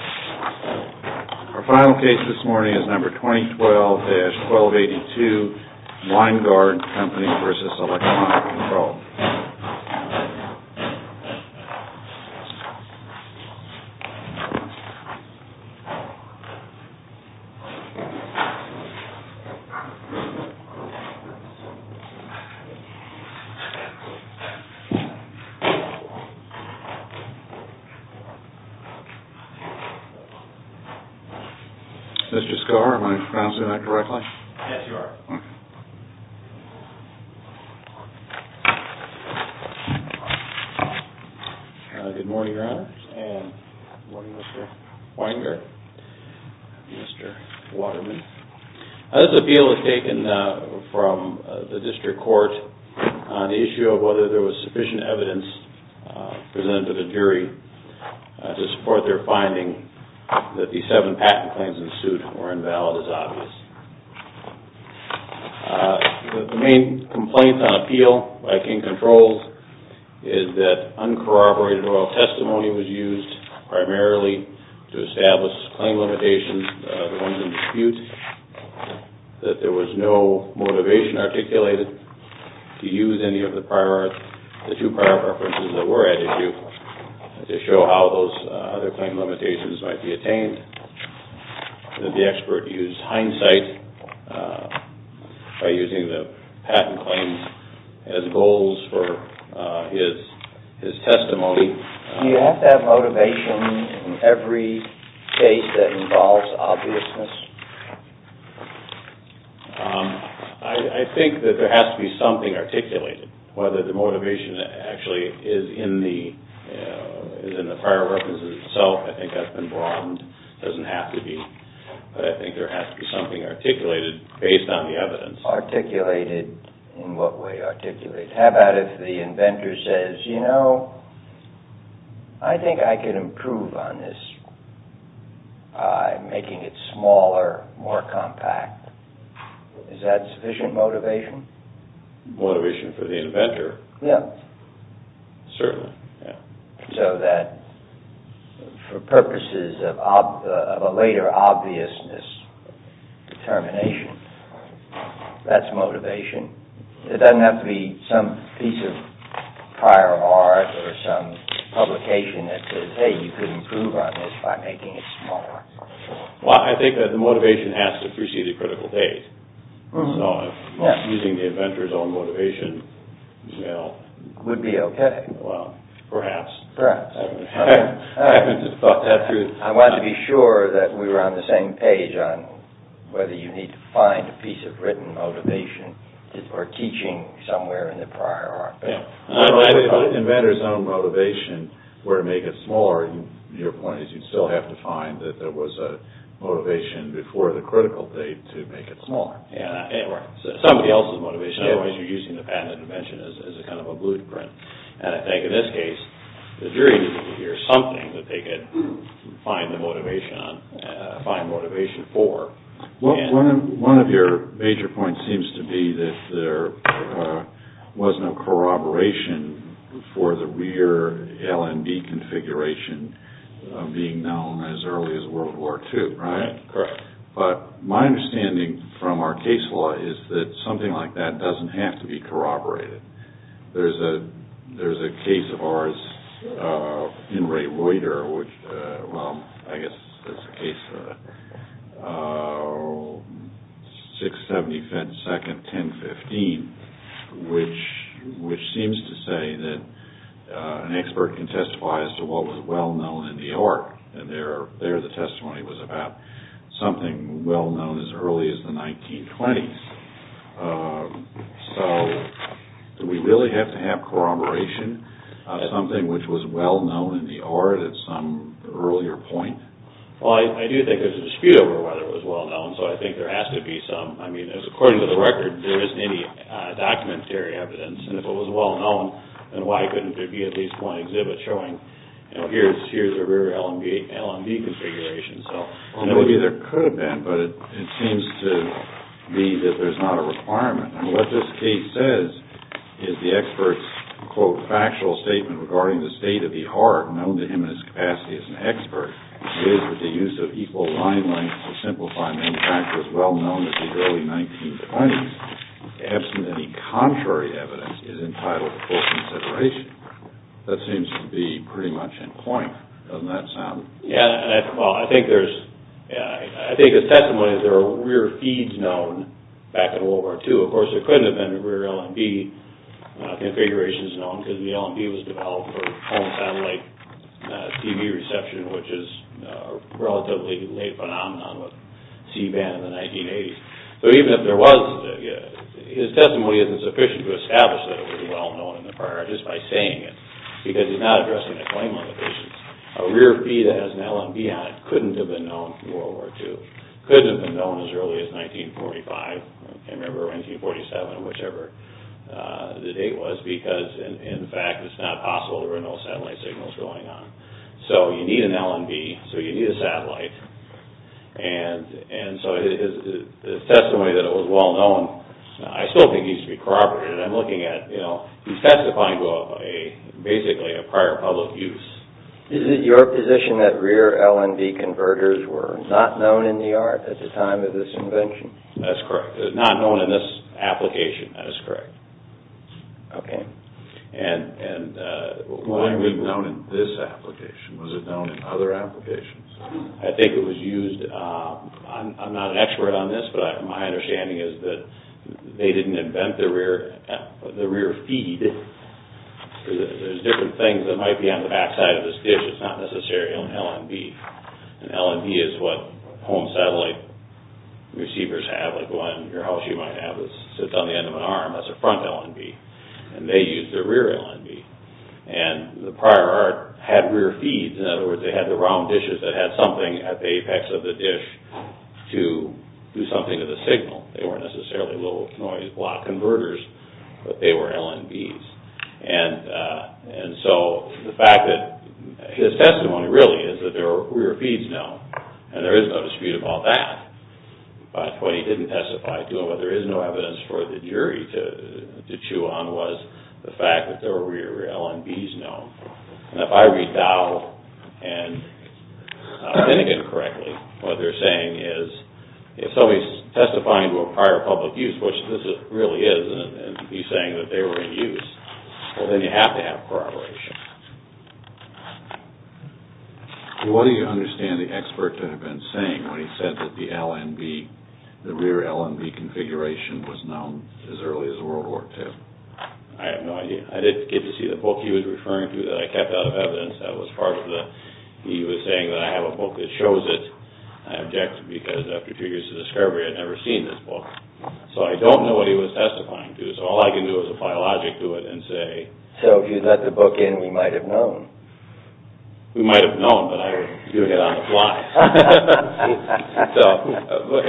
Our final case this morning is number 2012-1282, WINEGARD CO v. ELECTRONIC CONTROLLED. Mr. Scarr, am I pronouncing that correctly? Yes, you are. Good morning, Your Honors, and good morning, Mr. Winegard and Mr. Waterman. This appeal was taken from the district court on the issue of whether there was sufficient evidence presented to the jury to support their finding that the seven patent claims in suit were invalid as obvious. The main complaint on appeal by King Controlled is that uncorroborated oral testimony was used primarily to establish claim limitations, the ones in dispute, that there was no motivation articulated to use any of the two prior references that were at issue to show how those other claim limitations might be attained. The expert used hindsight by using the patent claims as goals for his testimony. Do you have to have motivation in every case that involves obviousness? I think that there has to be something articulated. Whether the motivation actually is in the prior references itself, I think that's been broadened. It doesn't have to be, but I think there has to be something articulated based on the evidence. Articulated, in what way articulated? How about if the inventor says, you know, I think I can improve on this. I'm making it smaller, more compact. Is that sufficient motivation? Motivation for the inventor? Yes. Certainly. So that for purposes of a later obviousness determination, that's motivation. It doesn't have to be some piece of prior art or some publication that says, hey, you can improve on this by making it smaller. Well, I think that the motivation has to precede a critical date. So using the inventor's own motivation, well... Would be okay. Well, perhaps. Perhaps. I haven't thought that through. I want to be sure that we were on the same page on whether you need to find a piece of written motivation or teaching somewhere in the prior art. If the inventor's own motivation were to make it smaller, your point is you'd still have to find that there was a motivation before the critical date to make it smaller. Or somebody else's motivation. Otherwise, you're using the patented invention as kind of a blueprint. And I think in this case, the jury needed to hear something that they could find the motivation on, find motivation for. One of your major points seems to be that there was no corroboration for the rear L&D configuration being known as early as World War II, right? Correct. But my understanding from our case law is that something like that doesn't have to be corroborated. There's a case of ours in Ray Reuter, which... Well, I guess that's the case for that. 675nd 1015, which seems to say that an expert can testify as to what was well known in the art. And there, the testimony was about something well known as early as the 1920s. So do we really have to have corroboration on something which was well known in the art at some earlier point? Well, I do think there's a dispute over whether it was well known, so I think there has to be some. I mean, according to the record, there isn't any documentary evidence. And if it was well known, then why couldn't there be at least one exhibit showing, you know, here's a rear L&D configuration? Well, maybe there could have been, but it seems to me that there's not a requirement. And what this case says is the expert's, quote, factual statement regarding the state of the art, known to him in his capacity as an expert, is that the use of equal line lengths to simplify main factors well known as the early 1920s, absent any contrary evidence, is entitled to full consideration. That seems to be pretty much in point. Doesn't that sound... Yeah, well, I think there's, I think his testimony is there are rear feeds known back in World War II. Of course, there couldn't have been rear L&D configurations known, because the L&D was developed for home satellite TV reception, which is a relatively late phenomenon with C-band in the 1980s. So even if there was, his testimony isn't sufficient to establish that it was well known in the prior, just by saying it, because he's not addressing a claim on the patient's. A rear feed that has an L&B on it couldn't have been known in World War II, couldn't have been known as early as 1945, I can't remember, 1947, whichever the date was, because, in fact, it's not possible there were no satellite signals going on. So you need an L&B, so you need a satellite. And so his testimony that it was well known, I still think needs to be corroborated. I'm looking at, you know, he's testifying to a, basically, a prior public use. Is it your position that rear L&B converters were not known in the art at the time of this invention? That's correct. Not known in this application, that is correct. Okay. And were they known in this application? Was it known in other applications? I think it was used, I'm not an expert on this, but my understanding is that they didn't invent the rear feed. There's different things that might be on the back side of this dish, it's not necessarily an L&B. An L&B is what home satellite receivers have, like the one in your house you might have that sits on the end of an arm, that's a front L&B, and they used a rear L&B. And the prior art had rear feeds, in other words, they had the round dishes that had something at the apex of the dish to do something to the signal. They weren't necessarily little noise block converters, but they were L&Bs. And so the fact that his testimony really is that there are rear feeds now, and there is no dispute about that, but what he didn't testify to and what there is no evidence for the jury to chew on was the fact that there were rear L&Bs known. And if I read Dow and Finnegan correctly, what they're saying is if somebody's testifying to a prior public use, which this really is, and he's saying that they were in use, well then you have to have corroboration. What do you understand the expert to have been saying when he said that the L&B, the rear L&B configuration was known as early as World War II? I have no idea. I didn't get to see the book he was referring to that I kept out of evidence. He was saying that I have a book that shows it. I object because after a few years of discovery, I'd never seen this book. So I don't know what he was testifying to, so all I can do is apply logic to it and say... So if you'd let the book in, we might have known. We might have known, but I would do it on the fly.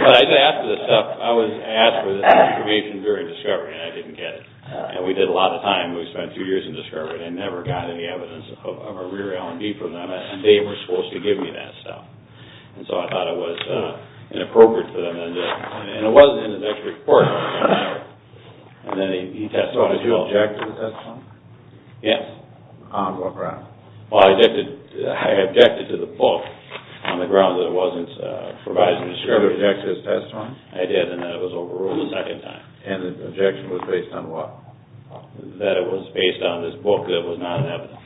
But I did ask for this stuff. I was asked for this information during discovery, and I didn't get it. And we did a lot of time. We spent two years in discovery and never got any evidence of a rear L&B from them, and they were supposed to give me that stuff. And so I thought it was inappropriate for them, and it wasn't in the next report. So did you object to the testimony? Yes. On what grounds? Well, I objected to the book on the grounds that it wasn't provided in discovery. You objected to his testimony? I did, and that was overruled a second time. And the objection was based on what? That it was based on this book that was not in evidence.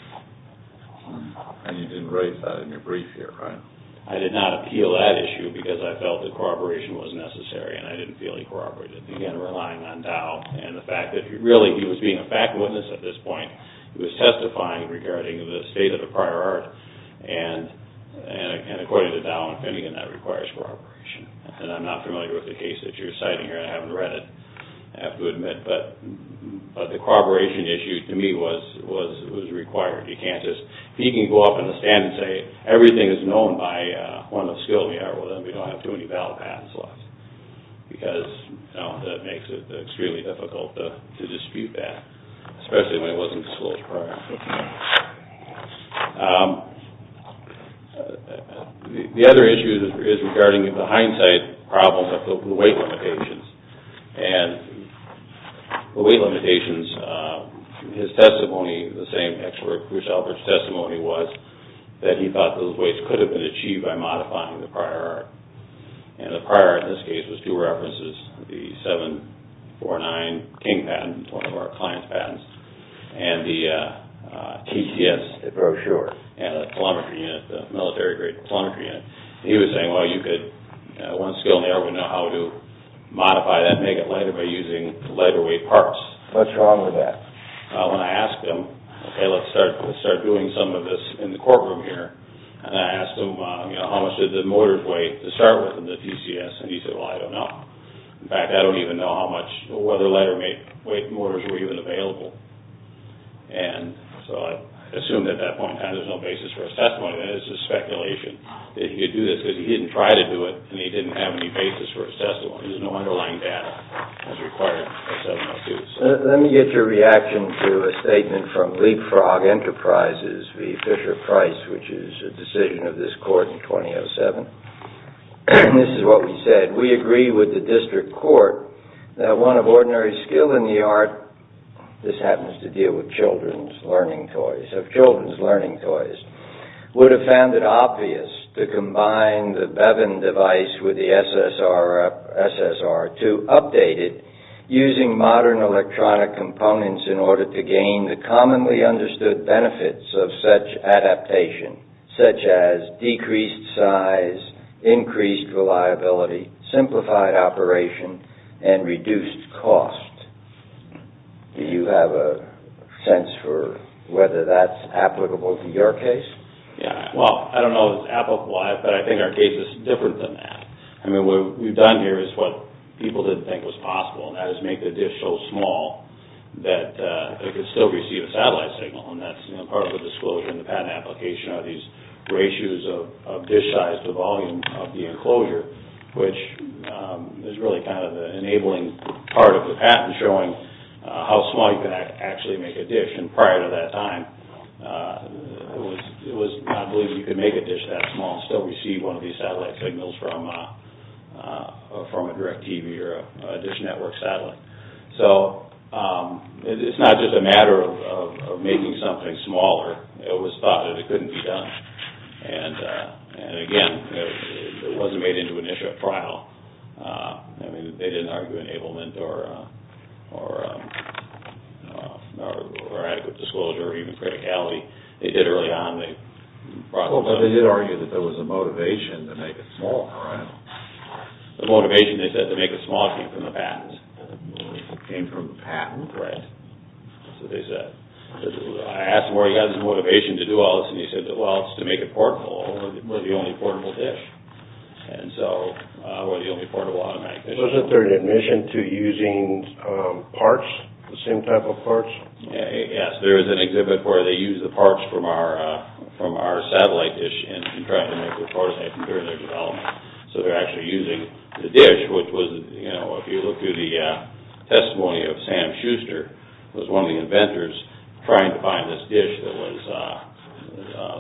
And you didn't raise that in your brief here, right? I did not appeal that issue because I felt that corroboration was necessary, and I didn't feel he corroborated. Again, relying on Dow and the fact that really he was being a fact witness at this point. He was testifying regarding the state of the prior art, and according to Dow and Finnegan, that requires corroboration. And I'm not familiar with the case that you're citing here. I haven't read it, I have to admit. But the corroboration issue to me was required. He can go up in the stand and say everything is known by one of the skills we have. Well, then we don't have too many valid patents left because that makes it extremely difficult to dispute that, especially when it wasn't disclosed prior. The other issue is regarding the hindsight problems of the weight limitations. And the weight limitations, his testimony, the same expert Bruce Albert's testimony was that he thought those weights could have been achieved by modifying the prior art. And the prior art in this case was two references, the 749 King patent, one of our client's patents, and the TCS, the brochure, and the kilometer unit, the military grade kilometer unit. And he was saying, well, you could, one skilled art would know how to modify that and make it lighter by using lighter weight parts. What's wrong with that? When I asked him, okay, let's start doing some of this in the courtroom here. And I asked him, you know, how much did the mortars weigh to start with in the TCS? And he said, well, I don't know. In fact, I don't even know how much, whether lighter weight mortars were even available. He didn't try to do it, and he didn't have any basis for his testimony. There's no underlying data as required of 702. Let me get your reaction to a statement from Leapfrog Enterprises v. Fisher Price, which is a decision of this court in 2007. This is what we said. We agree with the district court that one of ordinary skill in the art, this happens to deal with children's learning toys, of children's learning toys, would have found it obvious to combine the Bevan device with the SSR2, update it using modern electronic components in order to gain the commonly understood benefits of such adaptation, such as decreased size, increased reliability, simplified operation, and reduced cost. Do you have a sense for whether that's applicable to your case? Yeah. Well, I don't know if it's applicable, but I think our case is different than that. I mean, what we've done here is what people didn't think was possible, and that is make the dish so small that it could still receive a satellite signal, and that's part of the disclosure in the patent application are these ratios of dish size to the volume of the enclosure, which is really kind of the enabling part of the patent showing how small you can actually make a dish. And prior to that time, it was not believed you could make a dish that small and still receive one of these satellite signals from a direct TV or a dish network satellite. So it's not just a matter of making something smaller. It was thought that it couldn't be done. And, again, it wasn't made into an issue at trial. I mean, they didn't argue enablement or adequate disclosure or even criticality. They did early on. But they did argue that there was a motivation to make it smaller, right? The motivation, they said, to make it smaller came from the patents. Came from the patents? Right. That's what they said. I asked him where he got his motivation to do all this, and he said, well, it's to make it portable. We're the only portable dish. And so we're the only portable automatic dish. Wasn't there an admission to using parts, the same type of parts? Yes. There is an exhibit where they use the parts from our satellite dish and try to make it portable during their development. So they're actually using the dish, which was, if you look through the testimony of Sam Schuster, who was one of the inventors, trying to find this dish that was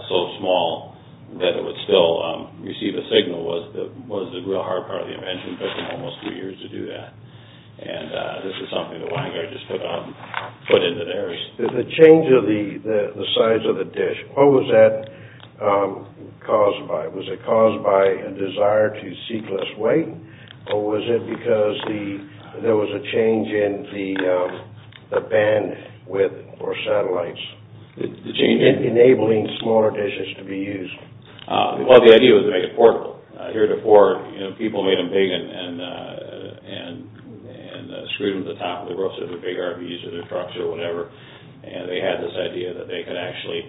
so small that it would still receive a signal was the real hard part of the invention. It took him almost three years to do that. And this is something that Weingart just put into theirs. The change of the size of the dish, what was that caused by? Was it caused by a desire to seek less weight, or was it because there was a change in the band width for satellites, enabling smaller dishes to be used? Well, the idea was to make it portable. Here at Ford, people made them big and screwed them to the top of the roof so they were bigger to be used in their trucks or whatever, and they had this idea that they could actually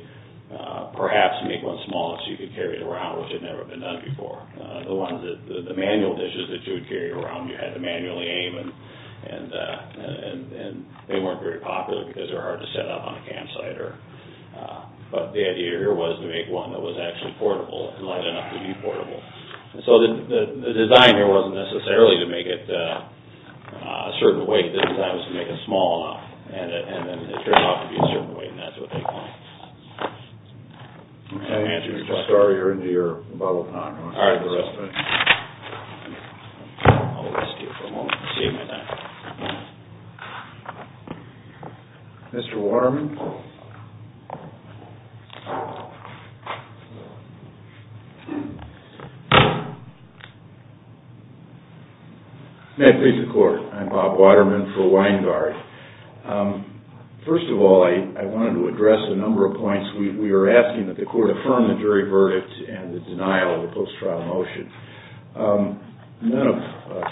perhaps make one small so you could carry it around, which had never been done before. The manual dishes that you would carry around, you had to manually aim, and they weren't very popular because they were hard to set up on a campsite. But the idea here was to make one that was actually portable, and light enough to be portable. So the design here wasn't necessarily to make it a certain weight. The design was to make it small enough, and then it turned out to be a certain weight, and that's what they called it. Can I answer your question? Sorry, you're into your bubble time. Mr. Waterman? May it please the Court, I'm Bob Waterman for Winegard. First of all, I wanted to address a number of points. We were asking that the Court affirm the jury verdict and the denial of the post-trial motion. None of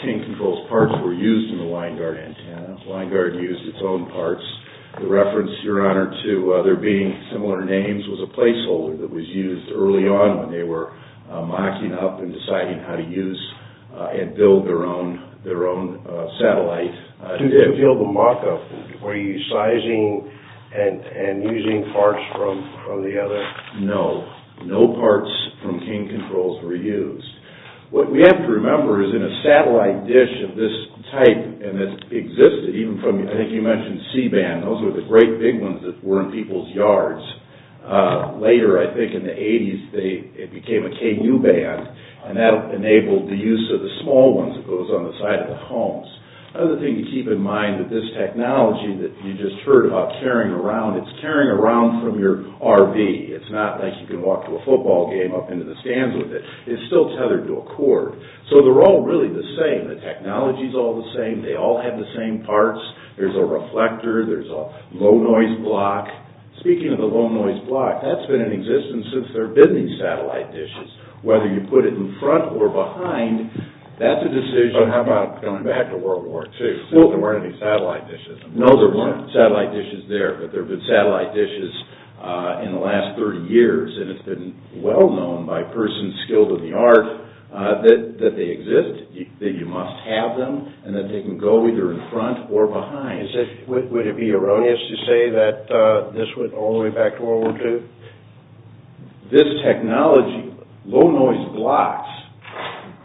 King Control's parts were used in the Winegard antenna. Winegard used its own parts. The reference, Your Honor, to there being similar names was a placeholder that was used early on when they were mocking up and deciding how to use and build their own satellite. Do you feel the mock up? Were you sizing and using parts from the other? No. No parts from King Control's were used. What we have to remember is in a satellite dish of this type, and it existed, even from, I think you mentioned C-band. Those were the great big ones that were in people's yards. Later, I think in the 80s, it became a KU band, and that enabled the use of the small ones that goes on the side of the homes. Another thing to keep in mind with this technology that you just heard about carrying around, it's carrying around from your RV. It's not like you can walk to a football game up into the stands with it. It's still tethered to a cord. So they're all really the same. The technology's all the same. They all have the same parts. There's a reflector. There's a low noise block. Speaking of the low noise block, that's been in existence since there have been these satellite dishes. Whether you put it in front or behind, that's a decision. So how about going back to World War II? There weren't any satellite dishes. No, there weren't satellite dishes there, but there have been satellite dishes in the last 30 years, and it's been well known by persons skilled in the art that they exist, that you must have them, and that they can go either in front or behind. Would it be erroneous to say that this went all the way back to World War II? This technology, low noise blocks,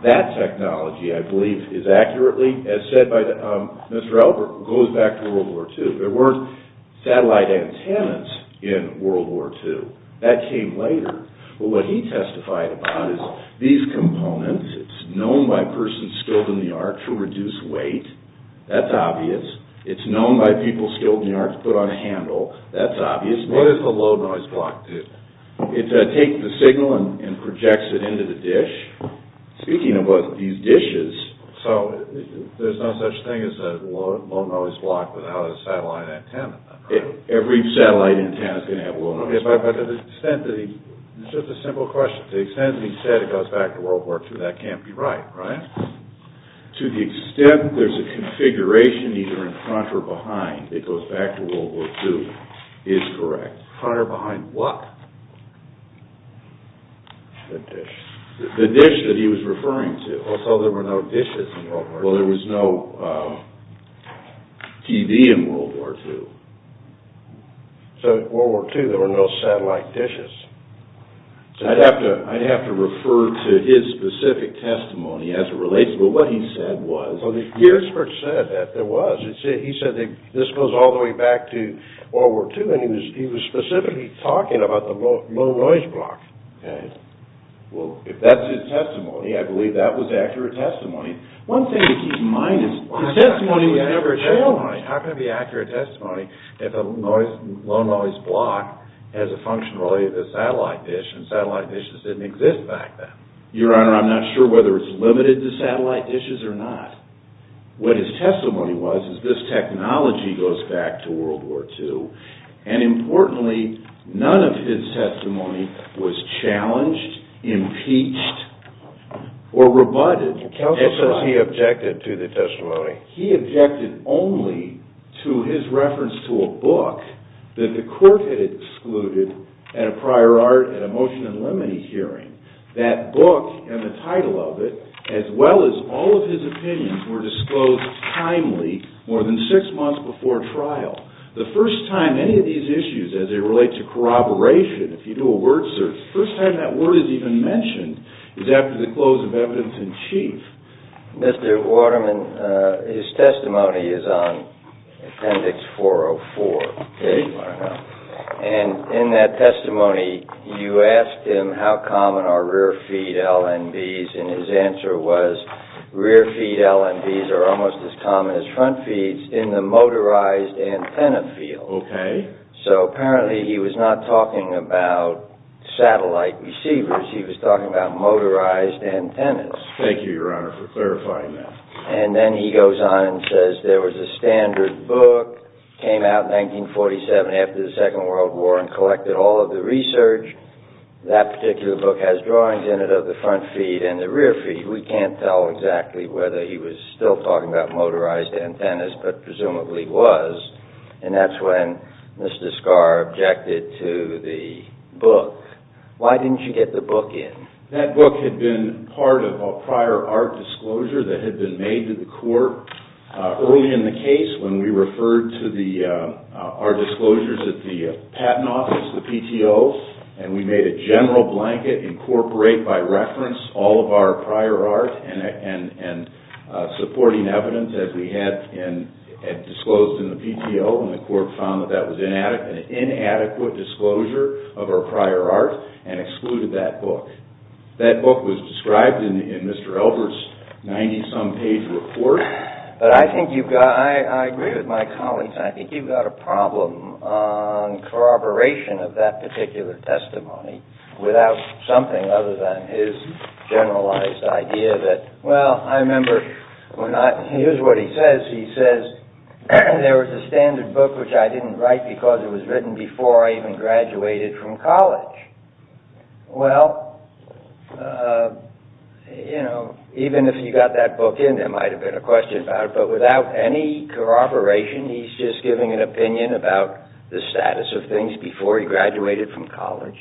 that technology, I believe, is accurately, as said by Mr. Albert, goes back to World War II. There weren't satellite antennas in World War II. That came later, but what he testified about is these components. It's known by persons skilled in the art to reduce weight. That's obvious. It's known by people skilled in the art to put on a handle. That's obvious. What does the low noise block do? It takes the signal and projects it into the dish. Speaking of these dishes, there's no such thing as a low noise block without a satellite antenna. Every satellite antenna is going to have low noise blocks. It's just a simple question. To the extent that he said it goes back to World War II, that can't be right, right? To the extent there's a configuration either in front or behind that goes back to World War II is correct. Front or behind what? The dish. The dish that he was referring to. Also, there were no dishes in World War II. Well, there was no TV in World War II. So, in World War II, there were no satellite dishes. I'd have to refer to his specific testimony as it relates to what he said. What he said was… Well, the Geertzberg said that there was. He said that this goes all the way back to World War II, and he was specifically talking about the low noise block. Okay. Well, if that's his testimony, I believe that was accurate testimony. One thing to keep in mind is the testimony was never shown. How can it be accurate testimony if a low noise block has a function related to a satellite dish, and satellite dishes didn't exist back then? Your Honor, I'm not sure whether it's limited to satellite dishes or not. What his testimony was is this technology goes back to World War II, and importantly, none of his testimony was challenged, impeached, or rebutted. That's what he objected to, the testimony. Okay. He objected only to his reference to a book that the court had excluded at a prior art, at a motion and limine hearing. That book and the title of it, as well as all of his opinions, were disclosed timely, more than six months before trial. The first time any of these issues, as they relate to corroboration, if you do a word search, the first time that word is even mentioned is after the close of evidence in chief. Mr. Waterman, his testimony is on Appendix 404. Okay. And in that testimony, you asked him how common are rear feed LNBs, and his answer was rear feed LNBs are almost as common as front feeds in the motorized antenna field. Okay. So apparently he was not talking about satellite receivers. He was talking about motorized antennas. Thank you, Your Honor, for clarifying that. And then he goes on and says there was a standard book, came out in 1947 after the Second World War, and collected all of the research. That particular book has drawings in it of the front feed and the rear feed. We can't tell exactly whether he was still talking about motorized antennas, but presumably was, and that's when Mr. Scarr objected to the book. Why didn't you get the book in? That book had been part of a prior art disclosure that had been made to the court early in the case when we referred to our disclosures at the Patent Office, the PTOs, and we made a general blanket incorporate by reference all of our prior art and supporting evidence as we had disclosed in the PTO, and the court found that that was an inadequate disclosure of our prior art and excluded that book. That book was described in Mr. Elbert's 90-some page report. But I think you've got – I agree with my colleagues. I think you've got a problem on corroboration of that particular testimony without something other than his generalized idea that – Here's what he says. He says, there was a standard book which I didn't write because it was written before I even graduated from college. Well, even if you got that book in, there might have been a question about it, but without any corroboration, he's just giving an opinion about the status of things before he graduated from college.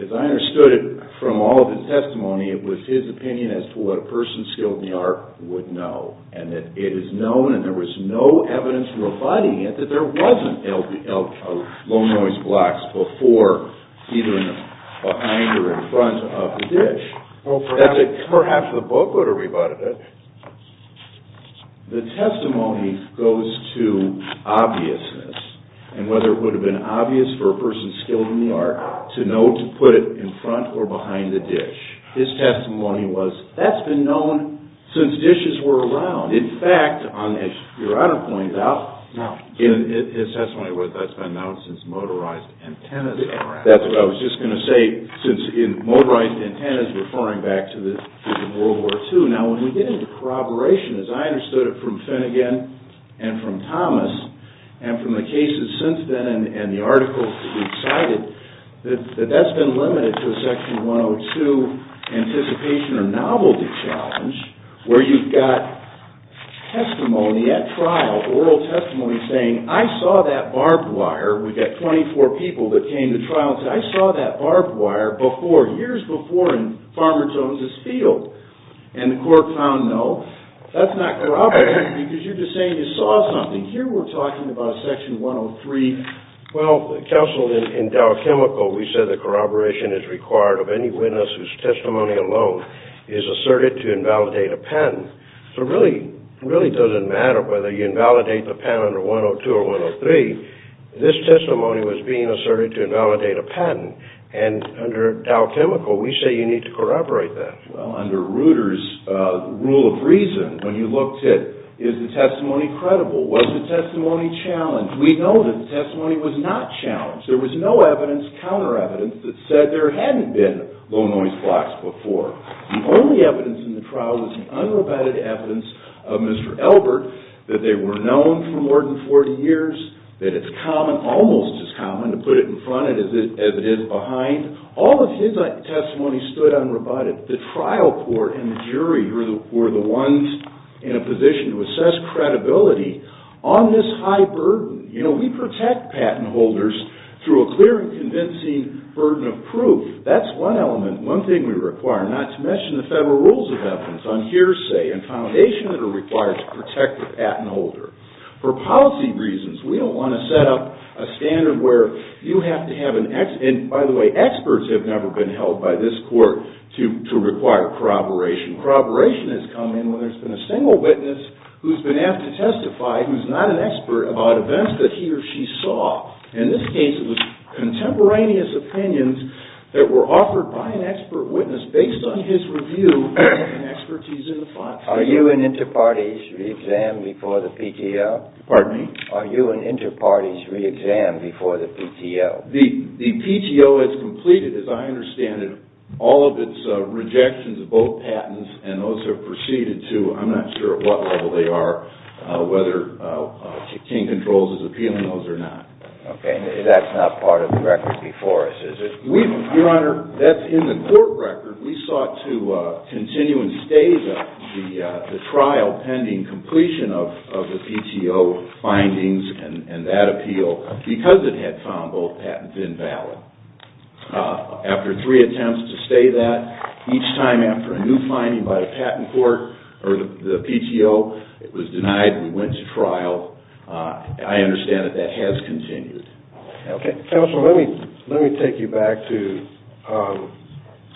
As I understood it from all of his testimony, it was his opinion as to what a person skilled in the art would know, and that it is known and there was no evidence rebutting it that there wasn't low-noise blocks before either behind or in front of the dish. Well, perhaps the book would have rebutted it. The testimony goes to obviousness and whether it would have been obvious for a person skilled in the art to know to put it in front or behind the dish. His testimony was, that's been known since dishes were around. In fact, as Your Honor points out, his testimony was, that's been known since motorized antennas were around. That's what I was just going to say, since motorized antennas referring back to the World War II. Now, when we get into corroboration, as I understood it from Finnegan and from Thomas and from the cases since then and the articles to be cited, that that's been limited to a Section 102 anticipation or novelty challenge where you've got testimony at trial, oral testimony saying, I saw that barbed wire. We've got 24 people that came to trial and said, I saw that barbed wire before, years before in Farmer Jones's field. And the court found no. That's not corroboration because you're just saying you saw something. Here we're talking about Section 103. Well, counsel, in Dow Chemical, we said that corroboration is required of any witness whose testimony alone is asserted to invalidate a patent. So it really doesn't matter whether you invalidate the patent under 102 or 103. This testimony was being asserted to invalidate a patent. And under Dow Chemical, we say you need to corroborate that. Well, under Reuter's rule of reason, when you looked at is the testimony credible, was the testimony challenged, we know that the testimony was not challenged. There was no evidence, counter evidence, that said there hadn't been low-noise blocks before. The only evidence in the trial was the unrebutted evidence of Mr. Elbert, that they were known for more than 40 years, that it's common, almost as common, to put it in front of it as it is behind. All of his testimony stood unrebutted. The trial court and the jury were the ones in a position to assess credibility on this high burden. You know, we protect patent holders through a clear and convincing burden of proof. That's one element, one thing we require, not to mention the federal rules of evidence on hearsay and foundation that are required to protect the patent holder. For policy reasons, we don't want to set up a standard where you have to have an X. And by the way, experts have never been held by this court to require corroboration. Corroboration has come in when there's been a single witness who's been asked to testify, who's not an expert about events that he or she saw. In this case, it was contemporaneous opinions that were offered by an expert witness based on his review and expertise in the file. Are you an inter-parties re-exam before the PTO? Pardon me? Are you an inter-parties re-exam before the PTO? The PTO has completed, as I understand it, all of its rejections of both patents and those have proceeded to, I'm not sure at what level they are, whether King Controls is appealing those or not. Okay, that's not part of the record before us, is it? Your Honor, that's in the court record. We sought to continue and stage the trial pending completion of the PTO findings and that appeal because it had found both patents invalid. After three attempts to stay that, each time after a new finding by the patent court or the PTO, it was denied, we went to trial. I understand that that has continued. Counsel, let me take you back to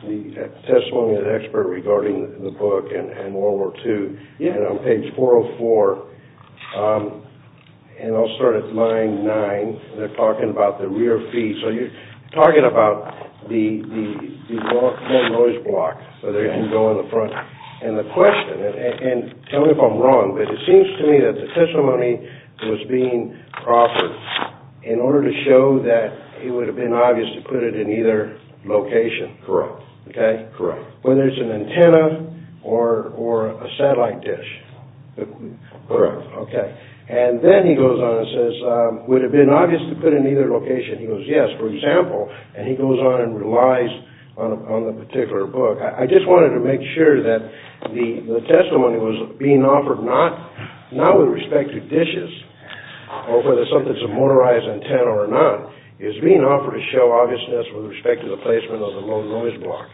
the testimony of the expert regarding the book and World War II. On page 404, and I'll start at line 9, they're talking about the rear feet. So you're talking about the noise block, whether it can go in the front. And the question, and tell me if I'm wrong, but it seems to me that the testimony was being offered in order to show that it would have been obvious to put it in either location. Correct. Okay? Correct. Whether it's an antenna or a satellite dish. Correct. Okay. And then he goes on and says, would it have been obvious to put it in either location? He goes, yes, for example, and he goes on and relies on the particular book. I just wanted to make sure that the testimony was being offered not with respect to dishes or whether something's a motorized antenna or not. It was being offered to show obviousness with respect to the placement of the low noise block.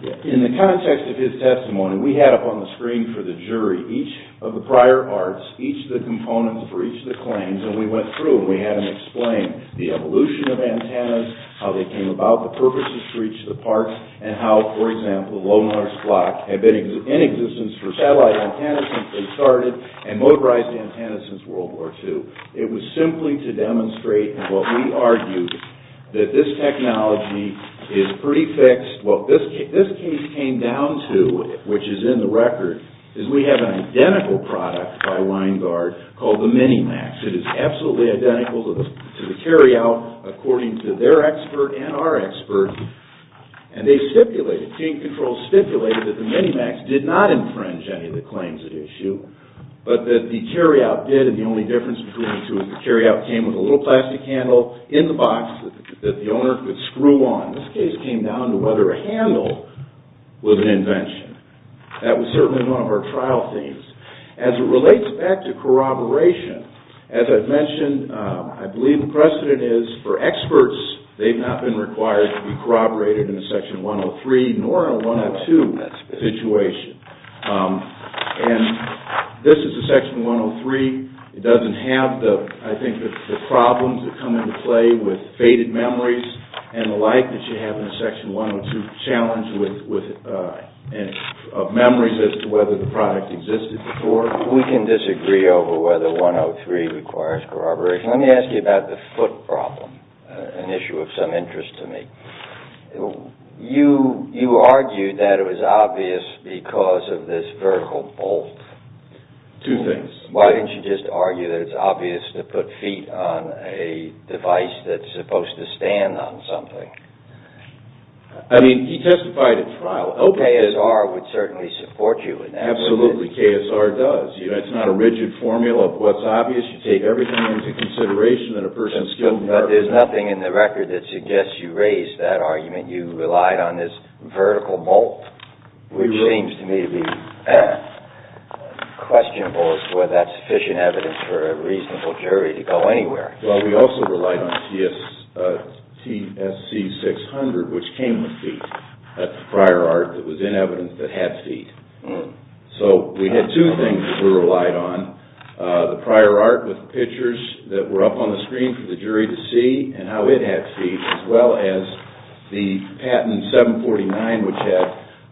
In the context of his testimony, we had up on the screen for the jury each of the prior parts, each of the components for each of the claims, and we went through and we had them explain the evolution of antennas, how they came about, the purposes for each of the parts, and how, for example, the low noise block had been in existence for satellite antennas since they started and motorized antennas since World War II. It was simply to demonstrate what we argued, that this technology is pretty fixed. Well, this case came down to, which is in the record, is we have an identical product by Weingart called the Minimax. It is absolutely identical to the Carryout according to their expert and our expert, and they stipulated, team control stipulated that the Minimax did not infringe any of the claims at issue, but that the Carryout did, and the only difference between the two is the Carryout came with a little plastic handle in the box that the owner could screw on. This case came down to whether a handle was an invention. That was certainly one of our trial themes. As it relates back to corroboration, as I've mentioned, I believe the precedent is for experts, they've not been required to be corroborated in the Section 103 nor in 102 situation. And this is the Section 103. It doesn't have, I think, the problems that come into play with faded memories and the like that you have in the Section 102 challenge of memories as to whether the product existed before. We can disagree over whether 103 requires corroboration. Let me ask you about the foot problem, an issue of some interest to me. You argued that it was obvious because of this vertical bolt. Two things. Why didn't you just argue that it's obvious to put feet on a device that's supposed to stand on something? I mean, he testified at trial. KSR would certainly support you in that. Absolutely, KSR does. It's not a rigid formula of what's obvious. You take everything into consideration and a person is skilled in that. I mean, you relied on this vertical bolt, which seems to me to be questionable as to whether that's sufficient evidence for a reasonable jury to go anywhere. Well, we also relied on TSC 600, which came with feet. That's a prior art that was in evidence that had feet. So we had two things that we relied on, the prior art with pictures that were up on the screen for the jury to see and how it had feet, as well as the patent 749, which had,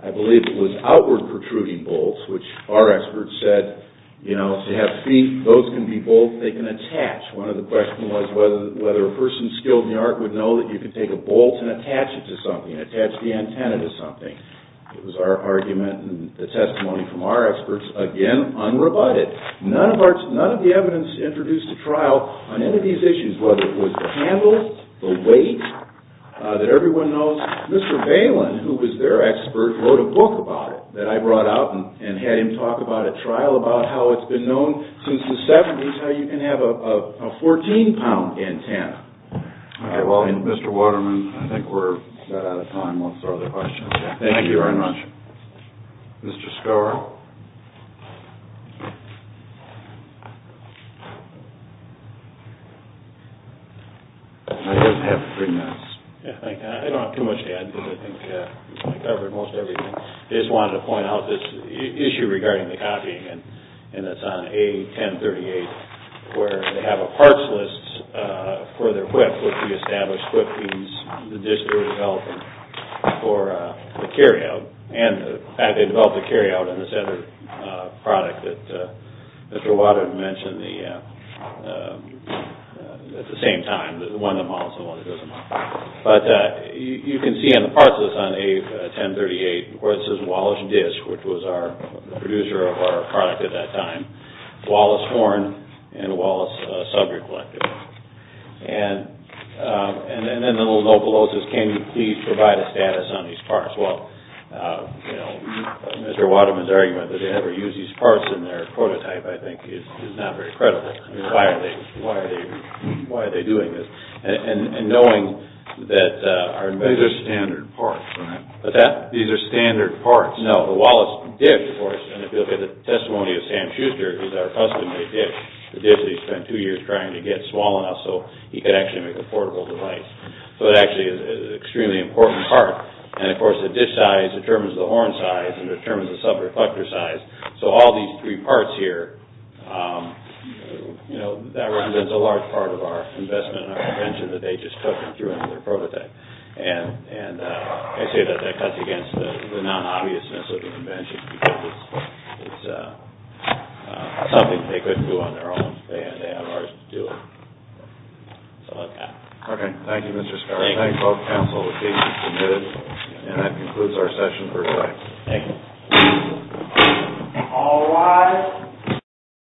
I believe it was outward protruding bolts, which our experts said, you know, if you have feet, those can be bolts they can attach. One of the questions was whether a person skilled in the art would know that you could take a bolt and attach it to something, attach the antenna to something. It was our argument and the testimony from our experts, again, unrebutted. None of the evidence introduced to trial on any of these issues, whether it was the handle, the weight, that everyone knows. Mr. Valen, who was their expert, wrote a book about it that I brought out and had him talk about at trial, about how it's been known since the 70s how you can have a 14-pound antenna. All right, well, Mr. Waterman, I think we're about out of time. Let's throw the question. Thank you very much. Mr. Skouro. I just have three minutes. I don't have too much to add because I think I covered most everything. I just wanted to point out this issue regarding the copying, and it's on A1038, where they have a parts list for their whip, which we established, the disc they were developing for the carry-out, and the fact they developed a carry-out in this other product that Mr. Waterman mentioned at the same time, the one that models the one that doesn't model. But you can see on the parts list on A1038 where it says Wallace Disc, which was the producer of our product at that time, Wallace Horn, and Wallace Sub-Recollective. And then the little note below says, can you please provide a status on these parts? Well, Mr. Waterman's argument that they never used these parts in their prototype, I think, is not very credible. I mean, why are they doing this? And knowing that our major standard parts. These are standard parts. No, the Wallace Disc, of course, and if you look at the testimony of Sam Schuster, the disc that he spent two years trying to get small enough so he could actually make a portable device. So it actually is an extremely important part. And, of course, the disc size determines the horn size and determines the sub-recollective size. So all these three parts here, that represents a large part of our investment in our invention that they just took and threw into their prototype. And I say that that cuts against the non-obviousness of the invention because it's something they couldn't do on their own. They had to ask us to do it. So, that's that. Okay. Thank you, Mr. Scott. Thank you. I thank both counsel for being so committed. And that concludes our session for today. Thank you. All rise.